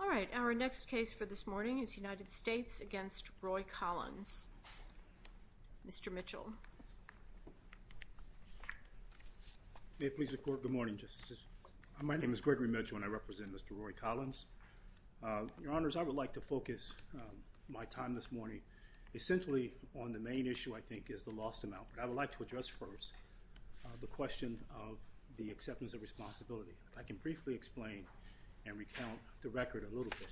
All right, our next case for this morning is United States v. Roy Collins. Mr. Mitchell. May it please the Court, good morning, Justices. My name is Gregory Mitchell and I represent Mr. Roy Collins. Your Honors, I would like to focus my time this morning essentially on the main issue I think is the lost amount. But I would like to address first the question of the acceptance of responsibility. If I can briefly explain and recount the record a little bit.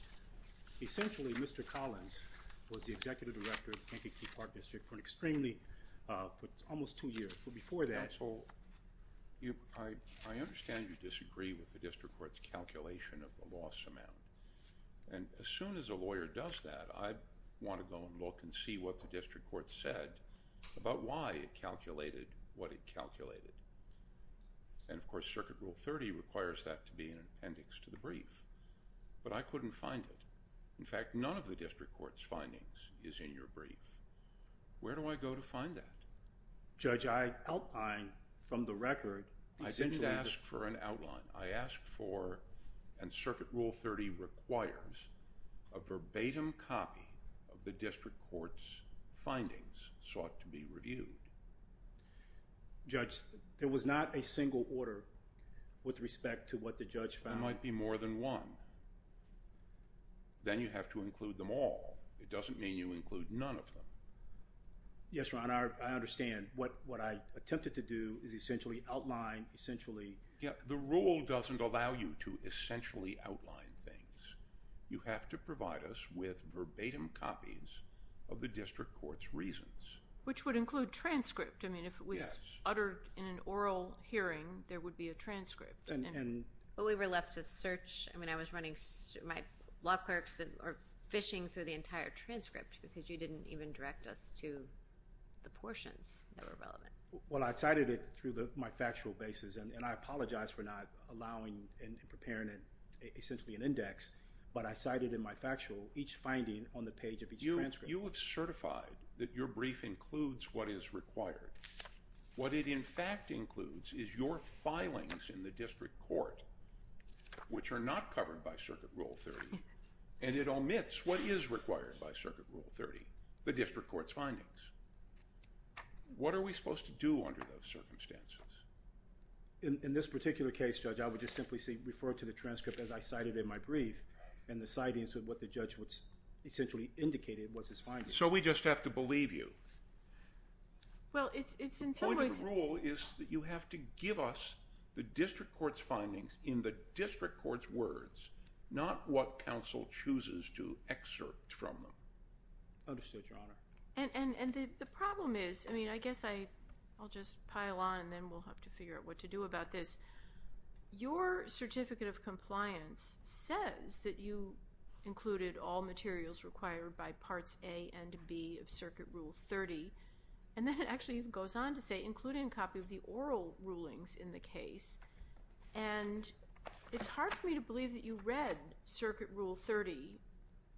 Essentially, Mr. Collins was the Executive Director of the Kankakee Park District for an extremely, almost two years. But before that- Counsel, I understand you disagree with the District Court's calculation of the lost amount. And as soon as a lawyer does that, I want to go and look and see what the District Court said about why it calculated what it calculated. And of course, Circuit Rule 30 requires that to be an appendix to the brief. But I couldn't find it. In fact, none of the District Court's findings is in your brief. Where do I go to find that? Judge, I outlined from the record- I didn't ask for an outline. I asked for, and Circuit Rule 30 requires, a verbatim copy of the District Court's findings sought to be reviewed. Judge, there was not a single order with respect to what the Judge found. Well, there might be more than one. Then you have to include them all. It doesn't mean you include none of them. Yes, Your Honor, I understand. What I attempted to do is essentially outline, essentially- The rule doesn't allow you to essentially outline things. You have to provide us with verbatim copies of the District Court's reasons. Which would include transcript. I mean, if it was uttered in an oral hearing, there would be a transcript. But we were left to search. I mean, I was running- my law clerks are fishing through the entire transcript because you didn't even direct us to the portions that were relevant. Well, I cited it through my factual basis, and I apologize for not allowing and preparing it, essentially an index. But I cited in my factual each finding on the page of each transcript. You have certified that your brief includes what is required. What it in fact includes is your filings in the District Court, which are not covered by Circuit Rule 30, and it omits what is required by Circuit Rule 30, the District Court's findings. What are we supposed to do under those circumstances? In this particular case, Judge, I would just simply refer to the transcript as I cited in my brief, and the citing is what the Judge essentially indicated was his findings. So we just have to believe you. Well, it's in some ways- The point of the rule is that you have to give us the District Court's findings in the District Court's words, not what counsel chooses to excerpt from them. Understood, Your Honor. And the problem is- I mean, I guess I'll just pile on, and then we'll have to figure out what to do about this. Your Certificate of Compliance says that you included all materials required by Parts A and B of Circuit Rule 30, and then it actually goes on to say, including a copy of the oral rulings in the case. And it's hard for me to believe that you read Circuit Rule 30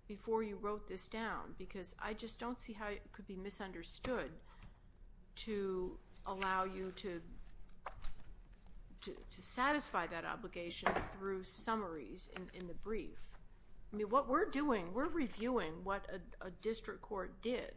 before you wrote this down because I just don't see how it could be misunderstood to allow you to satisfy that obligation through summaries in the brief. I mean, what we're doing, we're reviewing what a District Court did.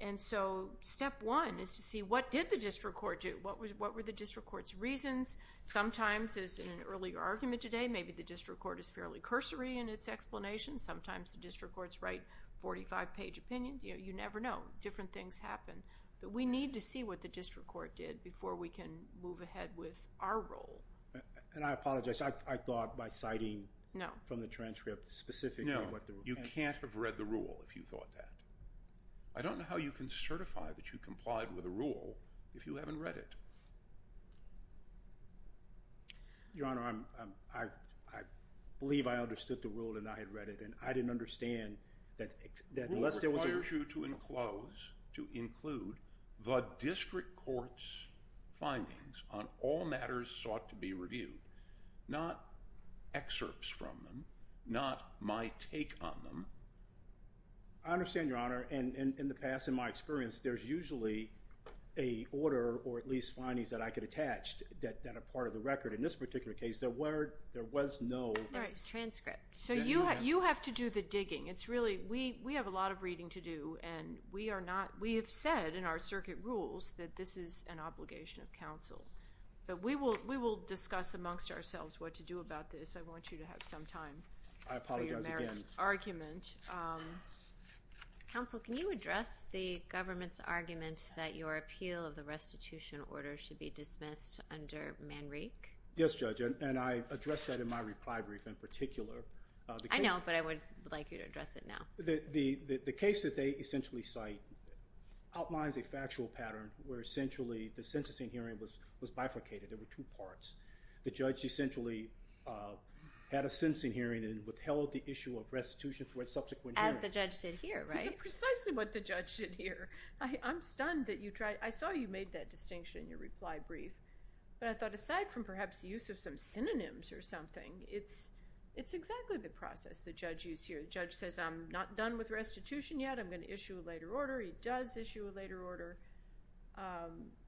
And so step one is to see what did the District Court do? What were the District Court's reasons? Sometimes, as in an earlier argument today, maybe the District Court is fairly cursory in its explanation. Sometimes the District Courts write 45-page opinions. You never know. Different things happen. But we need to see what the District Court did before we can move ahead with our role. And I apologize. I thought by citing from the transcript specifically what the- No. You can't have read the rule if you thought that. I don't know how you can certify that you complied with a rule if you haven't read it. Your Honor, I believe I understood the rule and I had read it. And I didn't understand that unless there was a- Rule requires you to enclose, to include the District Court's findings on all matters sought to be reviewed. Not excerpts from them. Not my take on them. I understand, Your Honor. And in the past, in my experience, there's usually a order or at least findings that I could attach that are part of the record. In this particular case, there was no- They're transcripts. So you have to do the digging. It's really-we have a lot of reading to do. And we are not-we have said in our circuit rules that this is an obligation of counsel. But we will discuss amongst ourselves what to do about this. I apologize again. Counsel, can you address the government's argument that your appeal of the restitution order should be dismissed under Manrique? Yes, Judge. And I addressed that in my reply brief in particular. I know, but I would like you to address it now. The case that they essentially cite outlines a factual pattern where essentially the sentencing hearing was bifurcated. There were two parts. The judge essentially had a sentencing hearing and withheld the issue of restitution for a subsequent hearing. As the judge did here, right? It's precisely what the judge did here. I'm stunned that you tried-I saw you made that distinction in your reply brief. But I thought aside from perhaps the use of some synonyms or something, it's exactly the process the judge used here. The judge says, I'm not done with restitution yet. I'm going to issue a later order. He does issue a later order.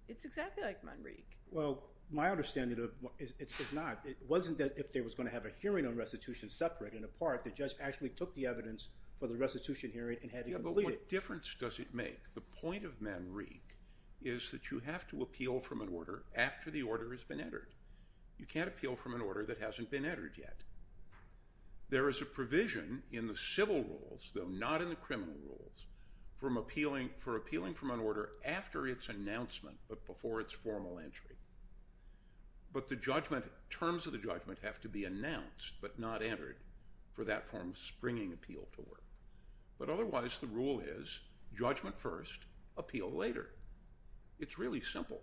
It's exactly like Manrique. Well, my understanding is it's not. It wasn't that if there was going to have a hearing on restitution separate and apart, the judge actually took the evidence for the restitution hearing and had it completed. Yeah, but what difference does it make? The point of Manrique is that you have to appeal from an order after the order has been entered. You can't appeal from an order that hasn't been entered yet. There is a provision in the civil rules, though not in the criminal rules, for appealing from an order after its announcement but before its formal entry. But the terms of the judgment have to be announced but not entered for that form of springing appeal to work. But otherwise, the rule is judgment first, appeal later. It's really simple.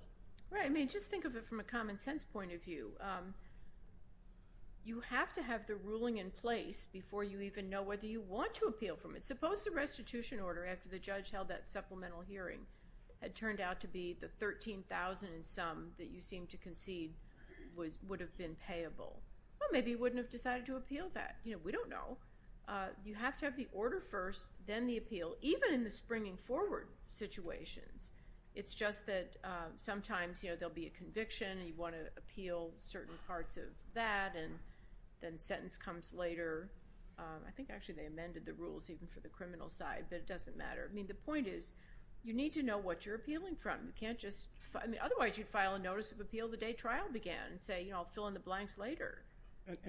Right. I mean, just think of it from a common sense point of view. You have to have the ruling in place before you even know whether you want to appeal from it. Suppose the restitution order after the judge held that supplemental hearing had turned out to be the $13,000 and some that you seem to concede would have been payable. Well, maybe you wouldn't have decided to appeal that. We don't know. You have to have the order first, then the appeal, even in the springing forward situations. It's just that sometimes, you know, there will be a conviction and you want to appeal certain parts of that and then the sentence comes later. I think actually they amended the rules even for the criminal side, but it doesn't matter. I mean, the point is you need to know what you're appealing from. You can't just—I mean, otherwise, you'd file a notice of appeal the day trial began and say, you know, I'll fill in the blanks later.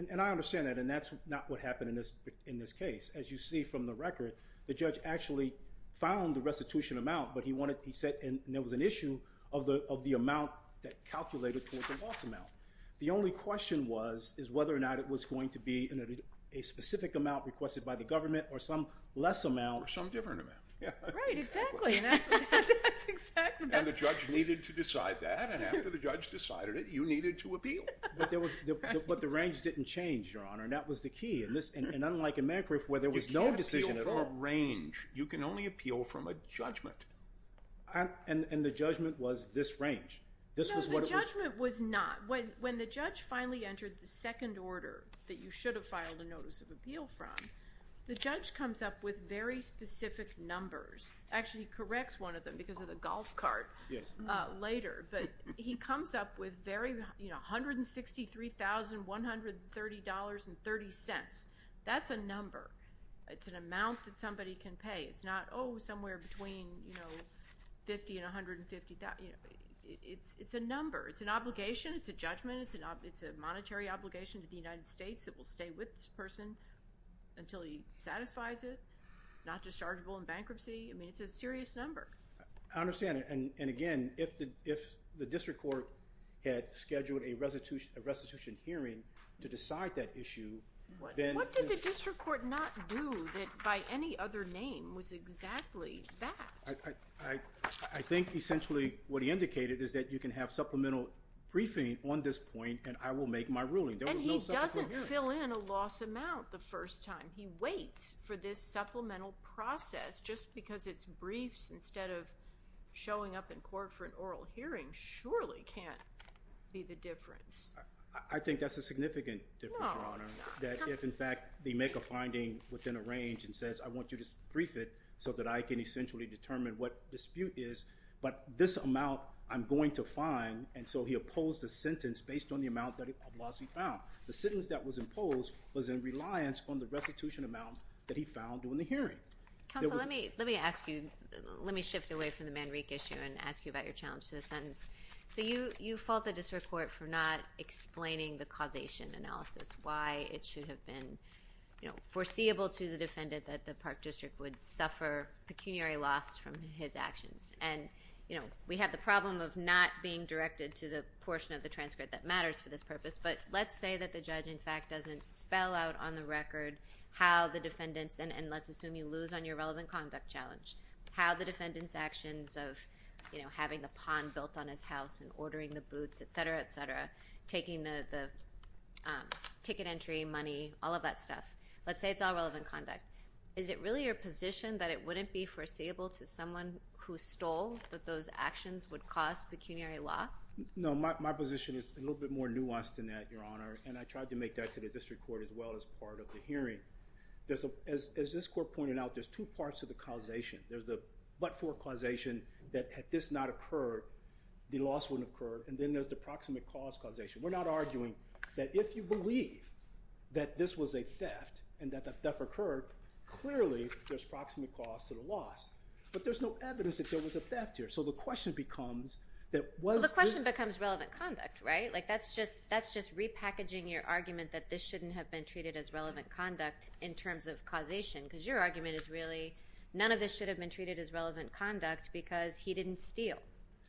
And I understand that, and that's not what happened in this case. As you see from the record, the judge actually found the restitution amount, but he wanted—he said there was an issue of the amount that calculated towards the loss amount. The only question was is whether or not it was going to be a specific amount requested by the government or some less amount. Or some different amount. Right, exactly. And the judge needed to decide that, and after the judge decided it, you needed to appeal. But the range didn't change, Your Honor, and that was the key. And unlike in Magriff where there was no decision at all— You can't appeal from a range. You can only appeal from a judgment. And the judgment was this range. No, the judgment was not. When the judge finally entered the second order that you should have filed a notice of appeal from, the judge comes up with very specific numbers. Actually, he corrects one of them because of the golf cart later. But he comes up with $163,130.30. That's a number. It's an amount that somebody can pay. It's not, oh, somewhere between $50,000 and $150,000. It's a number. It's an obligation. It's a judgment. It's a monetary obligation to the United States. It will stay with this person until he satisfies it. It's not dischargeable in bankruptcy. I mean, it's a serious number. I understand. And, again, if the district court had scheduled a restitution hearing to decide that issue, then— What did the district court not do that by any other name was exactly that? I think essentially what he indicated is that you can have supplemental briefing on this point, and I will make my ruling. There was no supplemental hearing. And he doesn't fill in a loss amount the first time. He waits for this supplemental process just because it's briefs instead of showing up in court for an oral hearing surely can't be the difference. I think that's a significant difference, Your Honor, that if, in fact, they make a finding within a range and says, I want you to brief it so that I can essentially determine what dispute is, but this amount I'm going to find, and so he opposed the sentence based on the amount of loss he found. The sentence that was imposed was in reliance on the restitution amount that he found during the hearing. Counsel, let me ask you—let me shift away from the Manrique issue and ask you about your challenge to the sentence. So you fault the district court for not explaining the causation analysis, why it should have been foreseeable to the defendant that the Park District would suffer pecuniary loss from his actions. And we have the problem of not being directed to the portion of the transcript that matters for this purpose, but let's say that the judge, in fact, doesn't spell out on the record how the defendant's— and let's assume you lose on your relevant conduct challenge—how the defendant's actions of having the pond built on his house and ordering the boots, et cetera, et cetera, taking the ticket entry, money, all of that stuff. Let's say it's all relevant conduct. Is it really your position that it wouldn't be foreseeable to someone who stole that those actions would cause pecuniary loss? No, my position is a little bit more nuanced than that, Your Honor, and I tried to make that to the district court as well as part of the hearing. As this court pointed out, there's two parts of the causation. There's the but-for causation that had this not occurred, the loss wouldn't have occurred, and then there's the proximate cause causation. We're not arguing that if you believe that this was a theft and that the theft occurred, clearly there's proximate cause to the loss, but there's no evidence that there was a theft here. The question becomes relevant conduct, right? That's just repackaging your argument that this shouldn't have been treated as relevant conduct in terms of causation because your argument is really none of this should have been treated as relevant conduct because he didn't steal.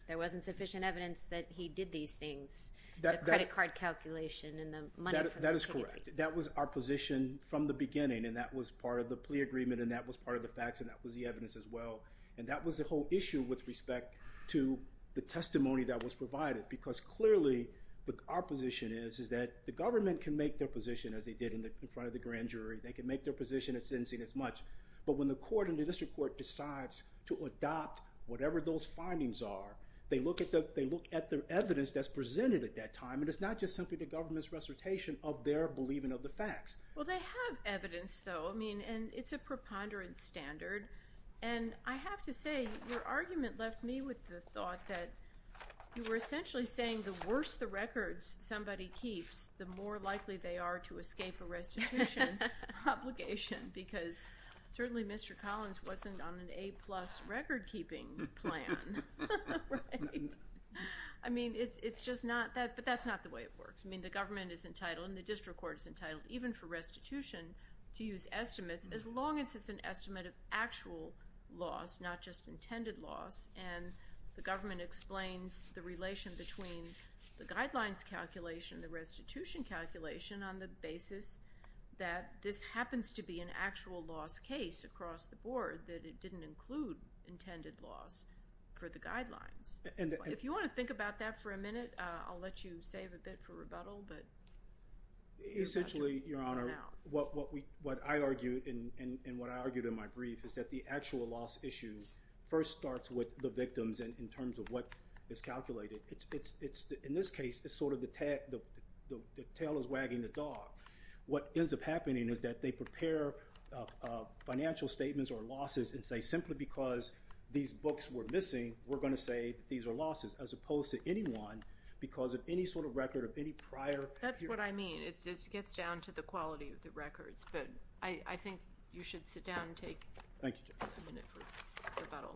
There wasn't sufficient evidence that he did these things, the credit card calculation and the money from the ticket fees. That is correct. That was our position from the beginning, and that was part of the plea agreement, and that was part of the facts, and that was the evidence as well. And that was the whole issue with respect to the testimony that was provided because clearly our position is that the government can make their position as they did in front of the grand jury. They can make their position. It didn't seem as much, but when the court and the district court decides to adopt whatever those findings are, they look at the evidence that's presented at that time, and it's not just simply the government's recitation of their believing of the facts. Well, they have evidence, though, and it's a preponderant standard, and I have to say your argument left me with the thought that you were essentially saying the worse the records somebody keeps, the more likely they are to escape a restitution obligation because certainly Mr. Collins wasn't on an A-plus record-keeping plan. Right? I mean, it's just not that, but that's not the way it works. I mean, the government is entitled and the district court is entitled even for restitution to use estimates as long as it's an estimate of actual loss, not just intended loss, and the government explains the relation between the guidelines calculation and the restitution calculation on the basis that this happens to be an actual loss case across the board, that it didn't include intended loss for the guidelines. If you want to think about that for a minute, I'll let you save a bit for rebuttal. Essentially, Your Honor, what I argued and what I argued in my brief is that the actual loss issue first starts with the victims in terms of what is calculated. In this case, it's sort of the tail is wagging the dog. What ends up happening is that they prepare financial statements or losses and say simply because these books were missing, we're going to say that these are losses as opposed to anyone because of any sort of record of any prior period. That's what I mean. It gets down to the quality of the records, but I think you should sit down and take a minute for rebuttal.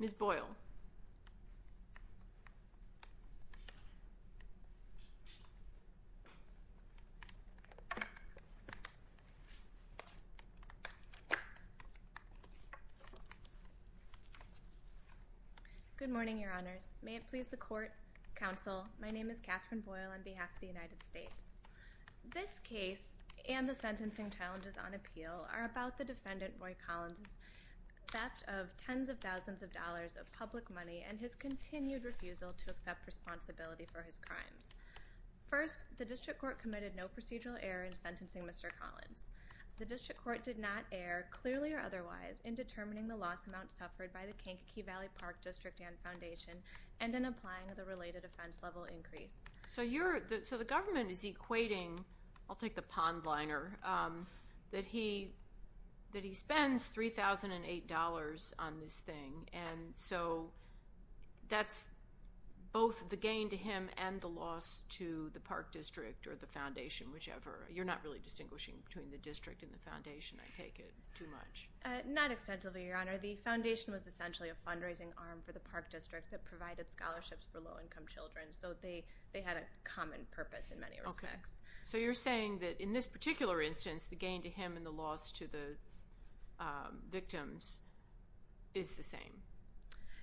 Ms. Boyle. Good morning, Your Honors. May it please the court, counsel, my name is Katherine Boyle on behalf of the United States. This case and the sentencing challenges on appeal are about the defendant, Roy Collins, theft of tens of thousands of dollars of public money and his continued refusal to accept responsibility for his crimes. First, the district court committed no procedural error in sentencing Mr. Collins. The district court did not err, clearly or otherwise, in determining the loss amount suffered by the Kankakee Valley Park District and Foundation and in applying the related offense level increase. So the government is equating, I'll take the pond liner, that he spends $3,008 on this thing. And so that's both the gain to him and the loss to the park district or the foundation, whichever. You're not really distinguishing between the district and the foundation, I take it, too much. Not extensively, Your Honor. The foundation was essentially a fundraising arm for the park district that provided scholarships for low-income children. So they had a common purpose in many respects. So you're saying that in this particular instance, the gain to him and the loss to the victims is the same.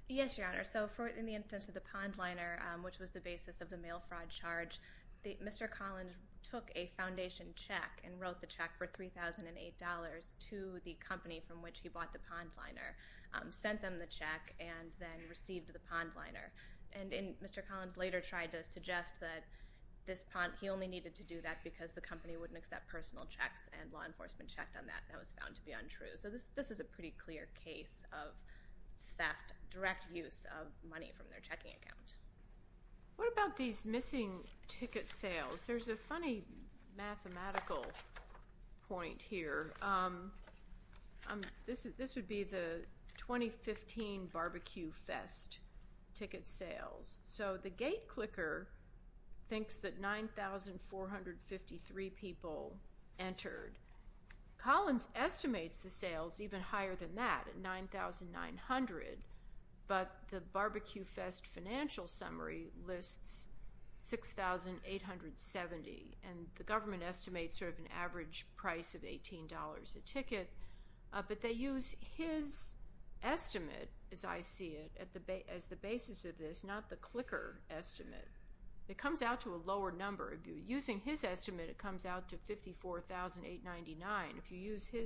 Yes, Your Honor. So in the instance of the pond liner, which was the basis of the mail fraud charge, Mr. Collins took a foundation check and wrote the check for $3,008 to the company from which he bought the pond liner, sent them the check, and then received the pond liner. And Mr. Collins later tried to suggest that he only needed to do that because the company wouldn't accept personal checks and law enforcement checked on that, and that was found to be untrue. So this is a pretty clear case of theft, direct use of money from their checking account. What about these missing ticket sales? There's a funny mathematical point here. This would be the 2015 Barbecue Fest ticket sales. So the gate clicker thinks that 9,453 people entered. Collins estimates the sales even higher than that at 9,900, but the Barbecue Fest financial summary lists 6,870, and the government estimates sort of an average price of $18 a ticket, but they use his estimate, as I see it, as the basis of this, not the clicker estimate. It comes out to a lower number. If you're using his estimate, it comes out to $54,899. If you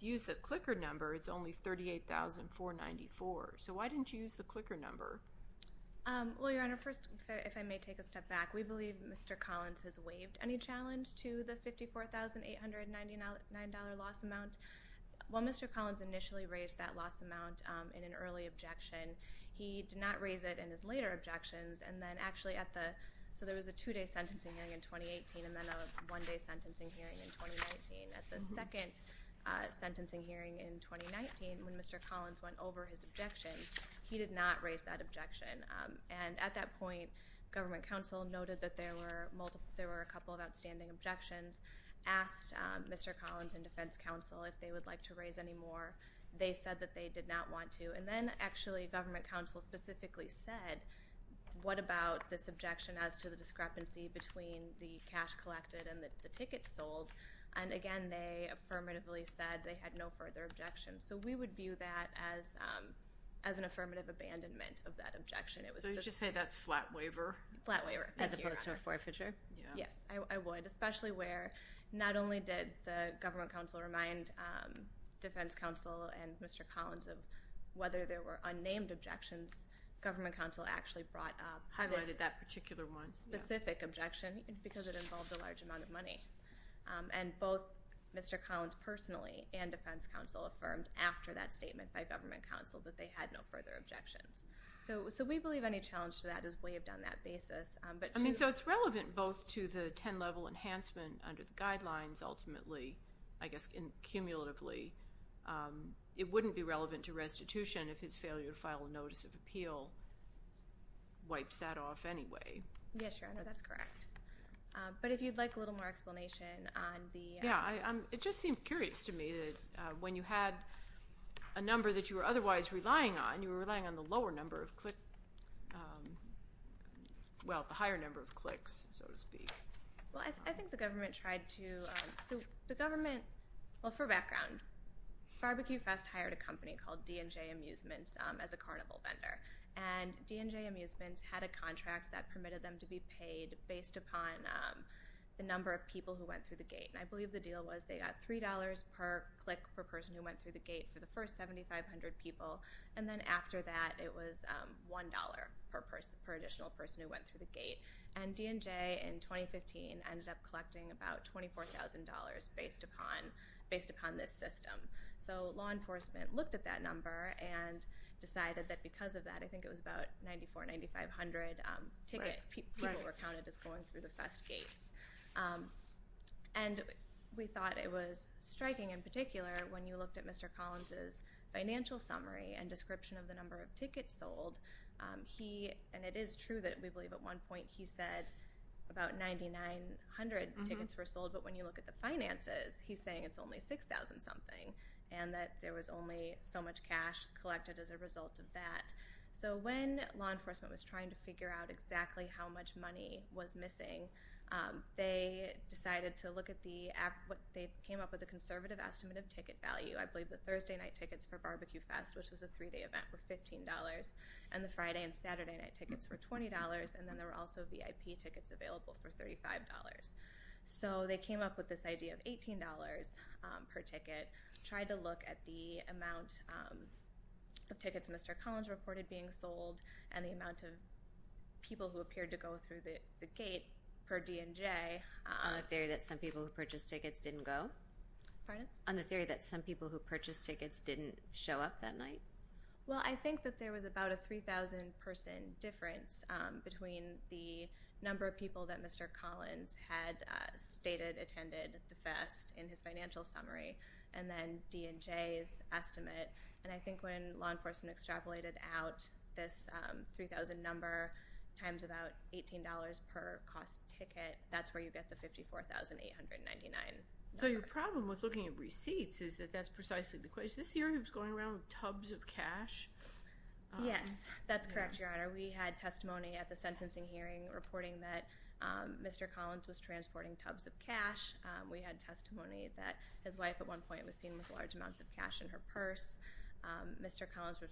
use the clicker number, it's only $38,494. So why didn't you use the clicker number? Well, Your Honor, first, if I may take a step back, we believe Mr. Collins has waived any challenge to the $54,899 loss amount. While Mr. Collins initially raised that loss amount in an early objection, he did not raise it in his later objections, and then actually at the – so there was a two-day sentencing hearing in 2018 and then a one-day sentencing hearing in 2019. At the second sentencing hearing in 2019, when Mr. Collins went over his objections, he did not raise that objection. And at that point, government counsel noted that there were a couple of outstanding objections, asked Mr. Collins and defense counsel if they would like to raise any more. They said that they did not want to. And then actually government counsel specifically said, what about this objection as to the discrepancy between the cash collected and the tickets sold, and, again, they affirmatively said they had no further objections. So we would view that as an affirmative abandonment of that objection. So you just say that's flat waiver? Flat waiver, as opposed to a forfeiture. Yes, I would, especially where not only did the government counsel remind defense counsel and Mr. Collins of whether there were unnamed objections, government counsel actually brought up this specific objection because it involved a large amount of money. And both Mr. Collins personally and defense counsel affirmed after that statement by government counsel that they had no further objections. So we believe any challenge to that is waived on that basis. I mean, so it's relevant both to the 10-level enhancement under the guidelines ultimately, I guess cumulatively, it wouldn't be relevant to restitution if his failure to file a notice of appeal wipes that off anyway. Yes, Your Honor, that's correct. But if you'd like a little more explanation on the- Yeah, it just seemed curious to me that when you had a number that you were otherwise relying on, you were relying on the lower number of clicks, well, the higher number of clicks, so to speak. Well, I think the government tried to- So the government, well, for background, Barbecue Fest hired a company called D&J Amusements as a carnival vendor, and D&J Amusements had a contract that permitted them to be paid based upon the number of people who went through the gate. And I believe the deal was they got $3 per click per person who went through the gate for the first 7,500 people. And then after that, it was $1 per additional person who went through the gate. And D&J in 2015 ended up collecting about $24,000 based upon this system. So law enforcement looked at that number and decided that because of that, I think it was about 9,400, 9,500 people were counted as going through the fest gates. And we thought it was striking in particular when you looked at Mr. Collins' financial summary and description of the number of tickets sold. And it is true that we believe at one point he said about 9,900 tickets were sold, but when you look at the finances, he's saying it's only 6,000-something and that there was only so much cash collected as a result of that. So when law enforcement was trying to figure out exactly how much money was missing, they came up with a conservative estimate of ticket value. I believe the Thursday night tickets for Barbecue Fest, which was a three-day event, were $15, and the Friday and Saturday night tickets were $20, and then there were also VIP tickets available for $35. So they came up with this idea of $18 per ticket, tried to look at the amount of tickets Mr. Collins reported being sold and the amount of people who appeared to go through the gate per DNJ. On the theory that some people who purchased tickets didn't go? Pardon? On the theory that some people who purchased tickets didn't show up that night? Well, I think that there was about a 3,000-person difference between the number of people that Mr. Collins had stated attended the fest in his financial summary and then DNJ's estimate. And I think when law enforcement extrapolated out this 3,000 number times about $18 per cost ticket, that's where you get the $54,899. So your problem with looking at receipts is that that's precisely the question. Is this the area that was going around with tubs of cash? Yes, that's correct, Your Honor. We had testimony at the sentencing hearing reporting that Mr. Collins was transporting tubs of cash. We had testimony that his wife at one point was seen with large amounts of cash in her purse. Mr. Collins was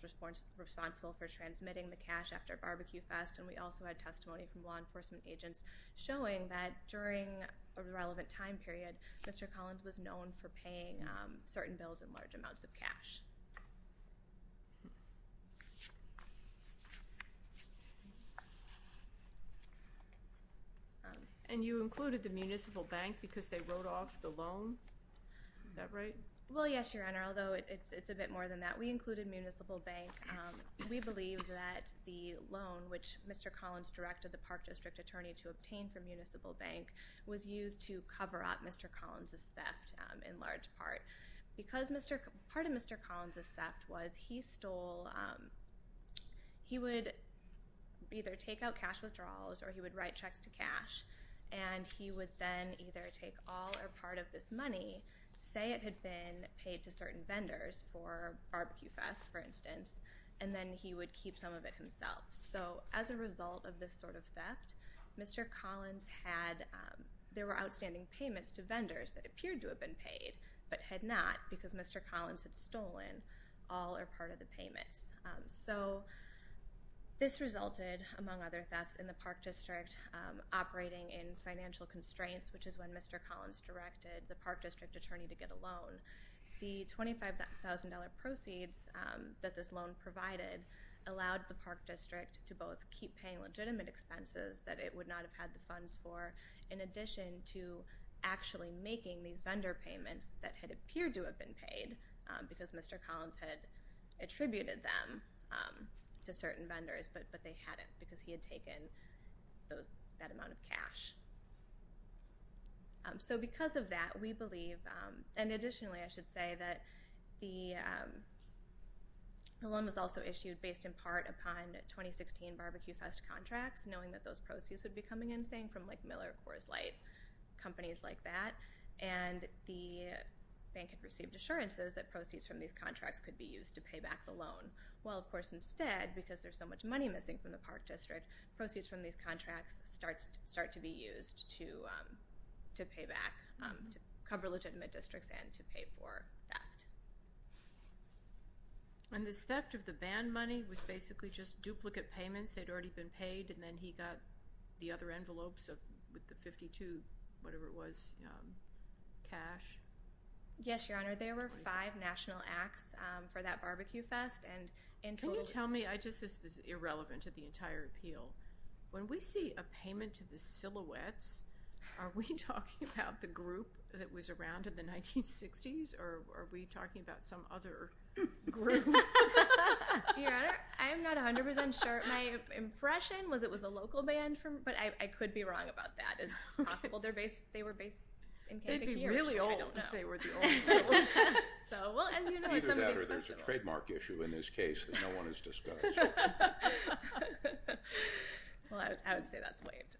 responsible for transmitting the cash after Barbecue Fest, and we also had testimony from law enforcement agents showing that during a relevant time period, Mr. Collins was known for paying certain bills in large amounts of cash. And you included the municipal bank because they wrote off the loan? Is that right? Well, yes, Your Honor, although it's a bit more than that. We included municipal bank. We believe that the loan, which Mr. Collins directed the Park District attorney to obtain from municipal bank, was used to cover up Mr. Collins' theft in large part. Part of Mr. Collins' theft was he would either take out cash withdrawals or he would write checks to cash, and he would then either take all or part of this money, say it had been paid to certain vendors for Barbecue Fest, for instance, and then he would keep some of it himself. So as a result of this sort of theft, there were outstanding payments to vendors that appeared to have been paid but had not because Mr. Collins had stolen all or part of the payments. So this resulted, among other thefts in the Park District, operating in financial constraints, which is when Mr. Collins directed the Park District attorney to get a loan. The $25,000 proceeds that this loan provided allowed the Park District to both keep paying legitimate expenses that it would not have had the funds for in addition to actually making these vendor payments that had appeared to have been paid because Mr. Collins had attributed them to certain vendors, but they hadn't because he had taken that amount of cash. So because of that, we believe, and additionally I should say that the loan was also issued based in part upon 2016 Barbecue Fest contracts, knowing that those proceeds would be coming in, saying from like Miller, Coors Light, companies like that, and the bank had received assurances that proceeds from these contracts could be used to pay back the loan. Well, of course, instead, because there's so much money missing from the Park District, proceeds from these contracts start to be used to pay back, to cover legitimate districts and to pay for theft. And this theft of the ban money was basically just duplicate payments. They'd already been paid, and then he got the other envelopes with the 52, whatever it was, cash. Yes, Your Honor. There were five national acts for that Barbecue Fest. Can you tell me, this is irrelevant to the entire appeal, when we see a payment to the Silhouettes, are we talking about the group that was around in the 1960s or are we talking about some other group? Your Honor, I'm not 100% sure. My impression was it was a local band, but I could be wrong about that. It's possible they were based in Kentucky. They'd be really old if they were the only Silhouettes. Either that or there's a trademark issue in this case that no one has discussed. Well, I would say that's waived.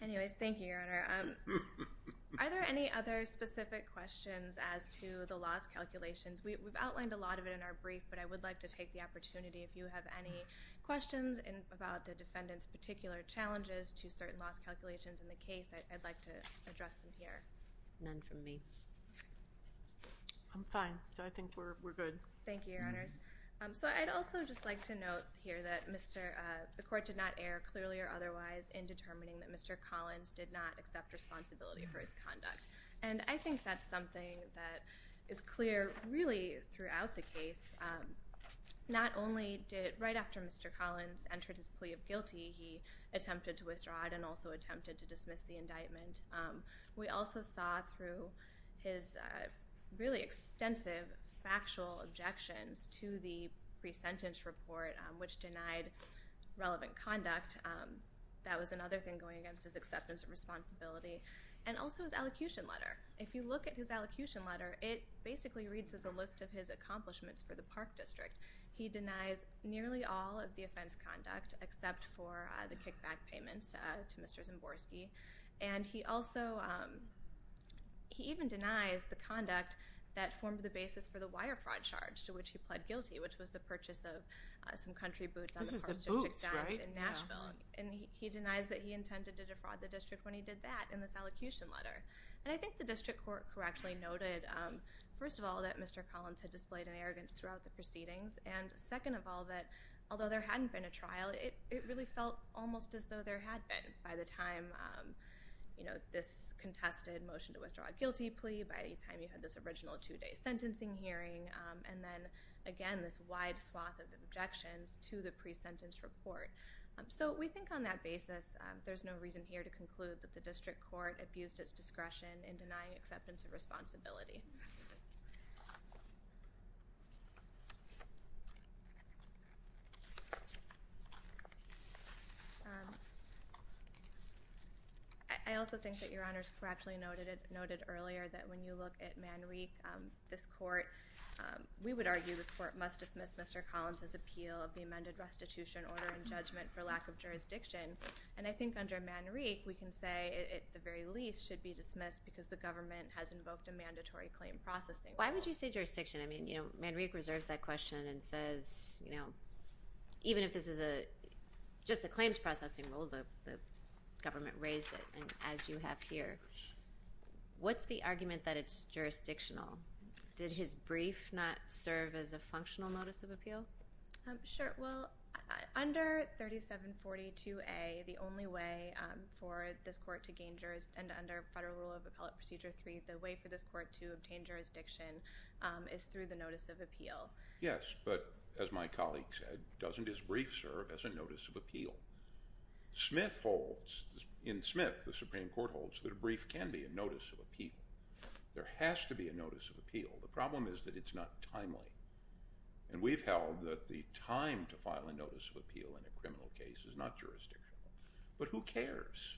Anyways, thank you, Your Honor. Are there any other specific questions as to the loss calculations? We've outlined a lot of it in our brief, but I would like to take the opportunity, if you have any questions about the defendant's particular challenges to certain loss calculations in the case, I'd like to address them here. None from me. I'm fine. I think we're good. Thank you, Your Honors. I'd also just like to note here that the court did not err, clearly or otherwise, in determining that Mr. Collins did not accept responsibility for his conduct. I think that's something that is clear really throughout the case. Not only did, right after Mr. Collins entered his plea of guilty, he attempted to withdraw it and also attempted to dismiss the indictment. We also saw through his really extensive factual objections to the pre-sentence report, which denied relevant conduct. That was another thing going against his acceptance of responsibility. Also, his elocution letter. If you look at his elocution letter, it basically reads as a list of his accomplishments for the Park District. He denies nearly all of the offense conduct, except for the kickback payments to Mr. Zimborski. He even denies the conduct that formed the basis for the wire fraud charge to which he pled guilty, which was the purchase of some country boots on the Park District docks in Nashville. He denies that he intended to defraud the district when he did that, in this elocution letter. I think the district court correctly noted, first of all, that Mr. Collins had displayed an arrogance throughout the proceedings, and second of all, that although there hadn't been a trial, it really felt almost as though there had been, by the time this contested motion to withdraw a guilty plea, by the time you had this original two-day sentencing hearing, and then, again, this wide swath of objections to the pre-sentence report. We think on that basis, there's no reason here to conclude that the district court abused its discretion in denying acceptance of responsibility. I also think that Your Honors correctly noted earlier that when you look at Manrique, this court, we would argue the court must dismiss Mr. Collins' appeal of the amended restitution order in judgment for lack of jurisdiction, and I think under Manrique, we can say, at the very least, should be dismissed because the government has invoked a mandatory claim processing rule. Why would you say jurisdiction? I mean, you know, Manrique reserves that question and says, you know, even if this is just a claims processing rule, the government raised it, and as you have here. What's the argument that it's jurisdictional? Did his brief not serve as a functional notice of appeal? Sure. Well, under 3742A, the only way for this court to gain jurisdiction, and under Federal Rule of Appellate Procedure 3, the way for this court to obtain jurisdiction is through the notice of appeal. Yes, but as my colleague said, doesn't his brief serve as a notice of appeal? Smith holds, in Smith, the Supreme Court holds, that a brief can be a notice of appeal. There has to be a notice of appeal. The problem is that it's not timely, and we've held that the time to file a notice of appeal in a criminal case is not jurisdictional. But who cares,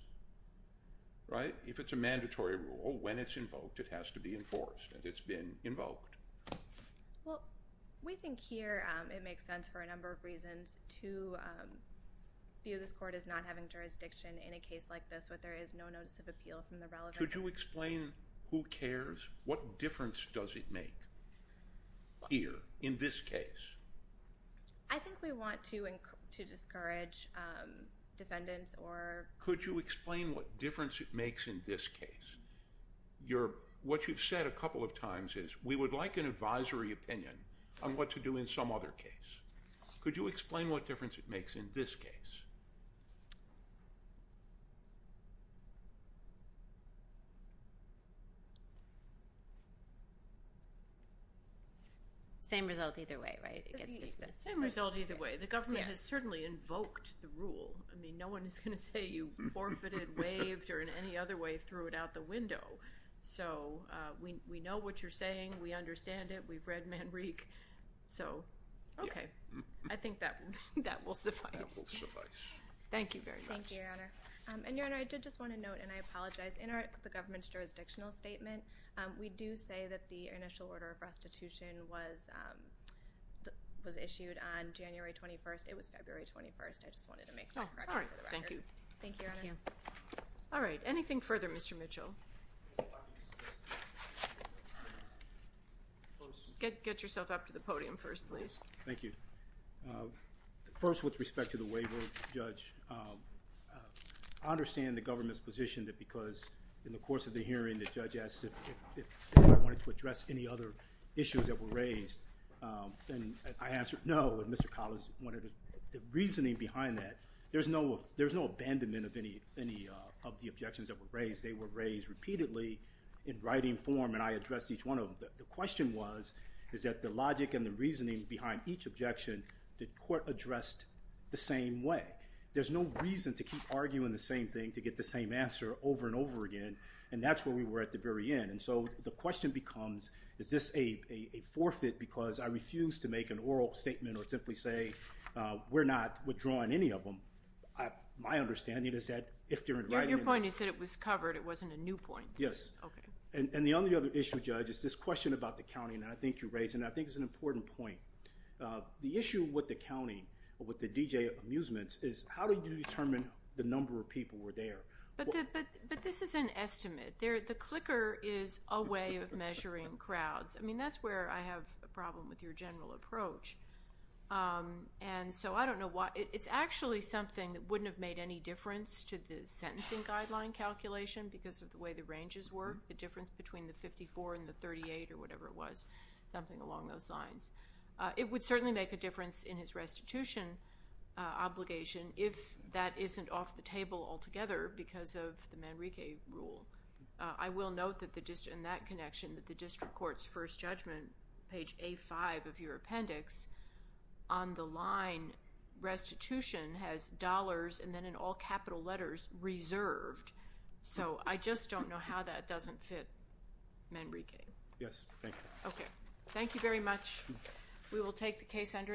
right? If it's a mandatory rule, when it's invoked, it has to be enforced, and it's been invoked. Well, we think here it makes sense for a number of reasons to view this court as not having jurisdiction in a case like this where there is no notice of appeal from the relevant court. Could you explain who cares? What difference does it make here, in this case? I think we want to discourage defendants or... Could you explain what difference it makes in this case? What you've said a couple of times is, we would like an advisory opinion on what to do in some other case. Could you explain what difference it makes in this case? Same result either way, right? Same result either way. The government has certainly invoked the rule. I mean, no one is going to say you forfeited, waived, or in any other way threw it out the window. So we know what you're saying. We understand it. We've read Manrique. So, okay. I think that will suffice. That will suffice. Thank you very much. Thank you, Your Honor. And, Your Honor, I did just want to note, and I apologize, in the government's jurisdictional statement, we do say that the initial order of restitution was issued on January 21st. It was February 21st. I just wanted to make that correction for the record. Thank you. Thank you, Your Honors. All right. Anything further, Mr. Mitchell? Get yourself up to the podium first, please. Thank you. First, with respect to the waiver, Judge, I understand the government's position that because, in the course of the hearing, the judge asked if I wanted to address any other issues that were raised. And I answered no. And Mr. Collins wanted a reasoning behind that. There's no abandonment of any of the objections that were raised. They were raised repeatedly in writing form, and I addressed each one of them. The question was, is that the logic and the reasoning behind each objection the court addressed the same way. There's no reason to keep arguing the same thing to get the same answer over and over again, and that's where we were at the very end. And so the question becomes, is this a forfeit because I refuse to make an oral statement or simply say we're not withdrawing any of them. My understanding is that if they're in writing. Your point is that it was covered. It wasn't a new point. Yes. Okay. And the other issue, Judge, is this question about the counting that I think you raised, and I think it's an important point. The issue with the counting, with the DJ amusements, is how do you determine the number of people were there? But this is an estimate. The clicker is a way of measuring crowds. I mean, that's where I have a problem with your general approach. And so I don't know why. It's actually something that wouldn't have made any difference to the sentencing guideline calculation because of the way the ranges were, the difference between the 54 and the 38 or whatever it was, something along those lines. It would certainly make a difference in his restitution obligation if that isn't off the table altogether because of the Manrique rule. I will note in that connection that the district court's first judgment, page A5 of your appendix, on the line, restitution has dollars, and then in all capital letters, reserved. So I just don't know how that doesn't fit Manrique. Yes. Thank you. Okay. Thank you very much. We will take the case under advisement.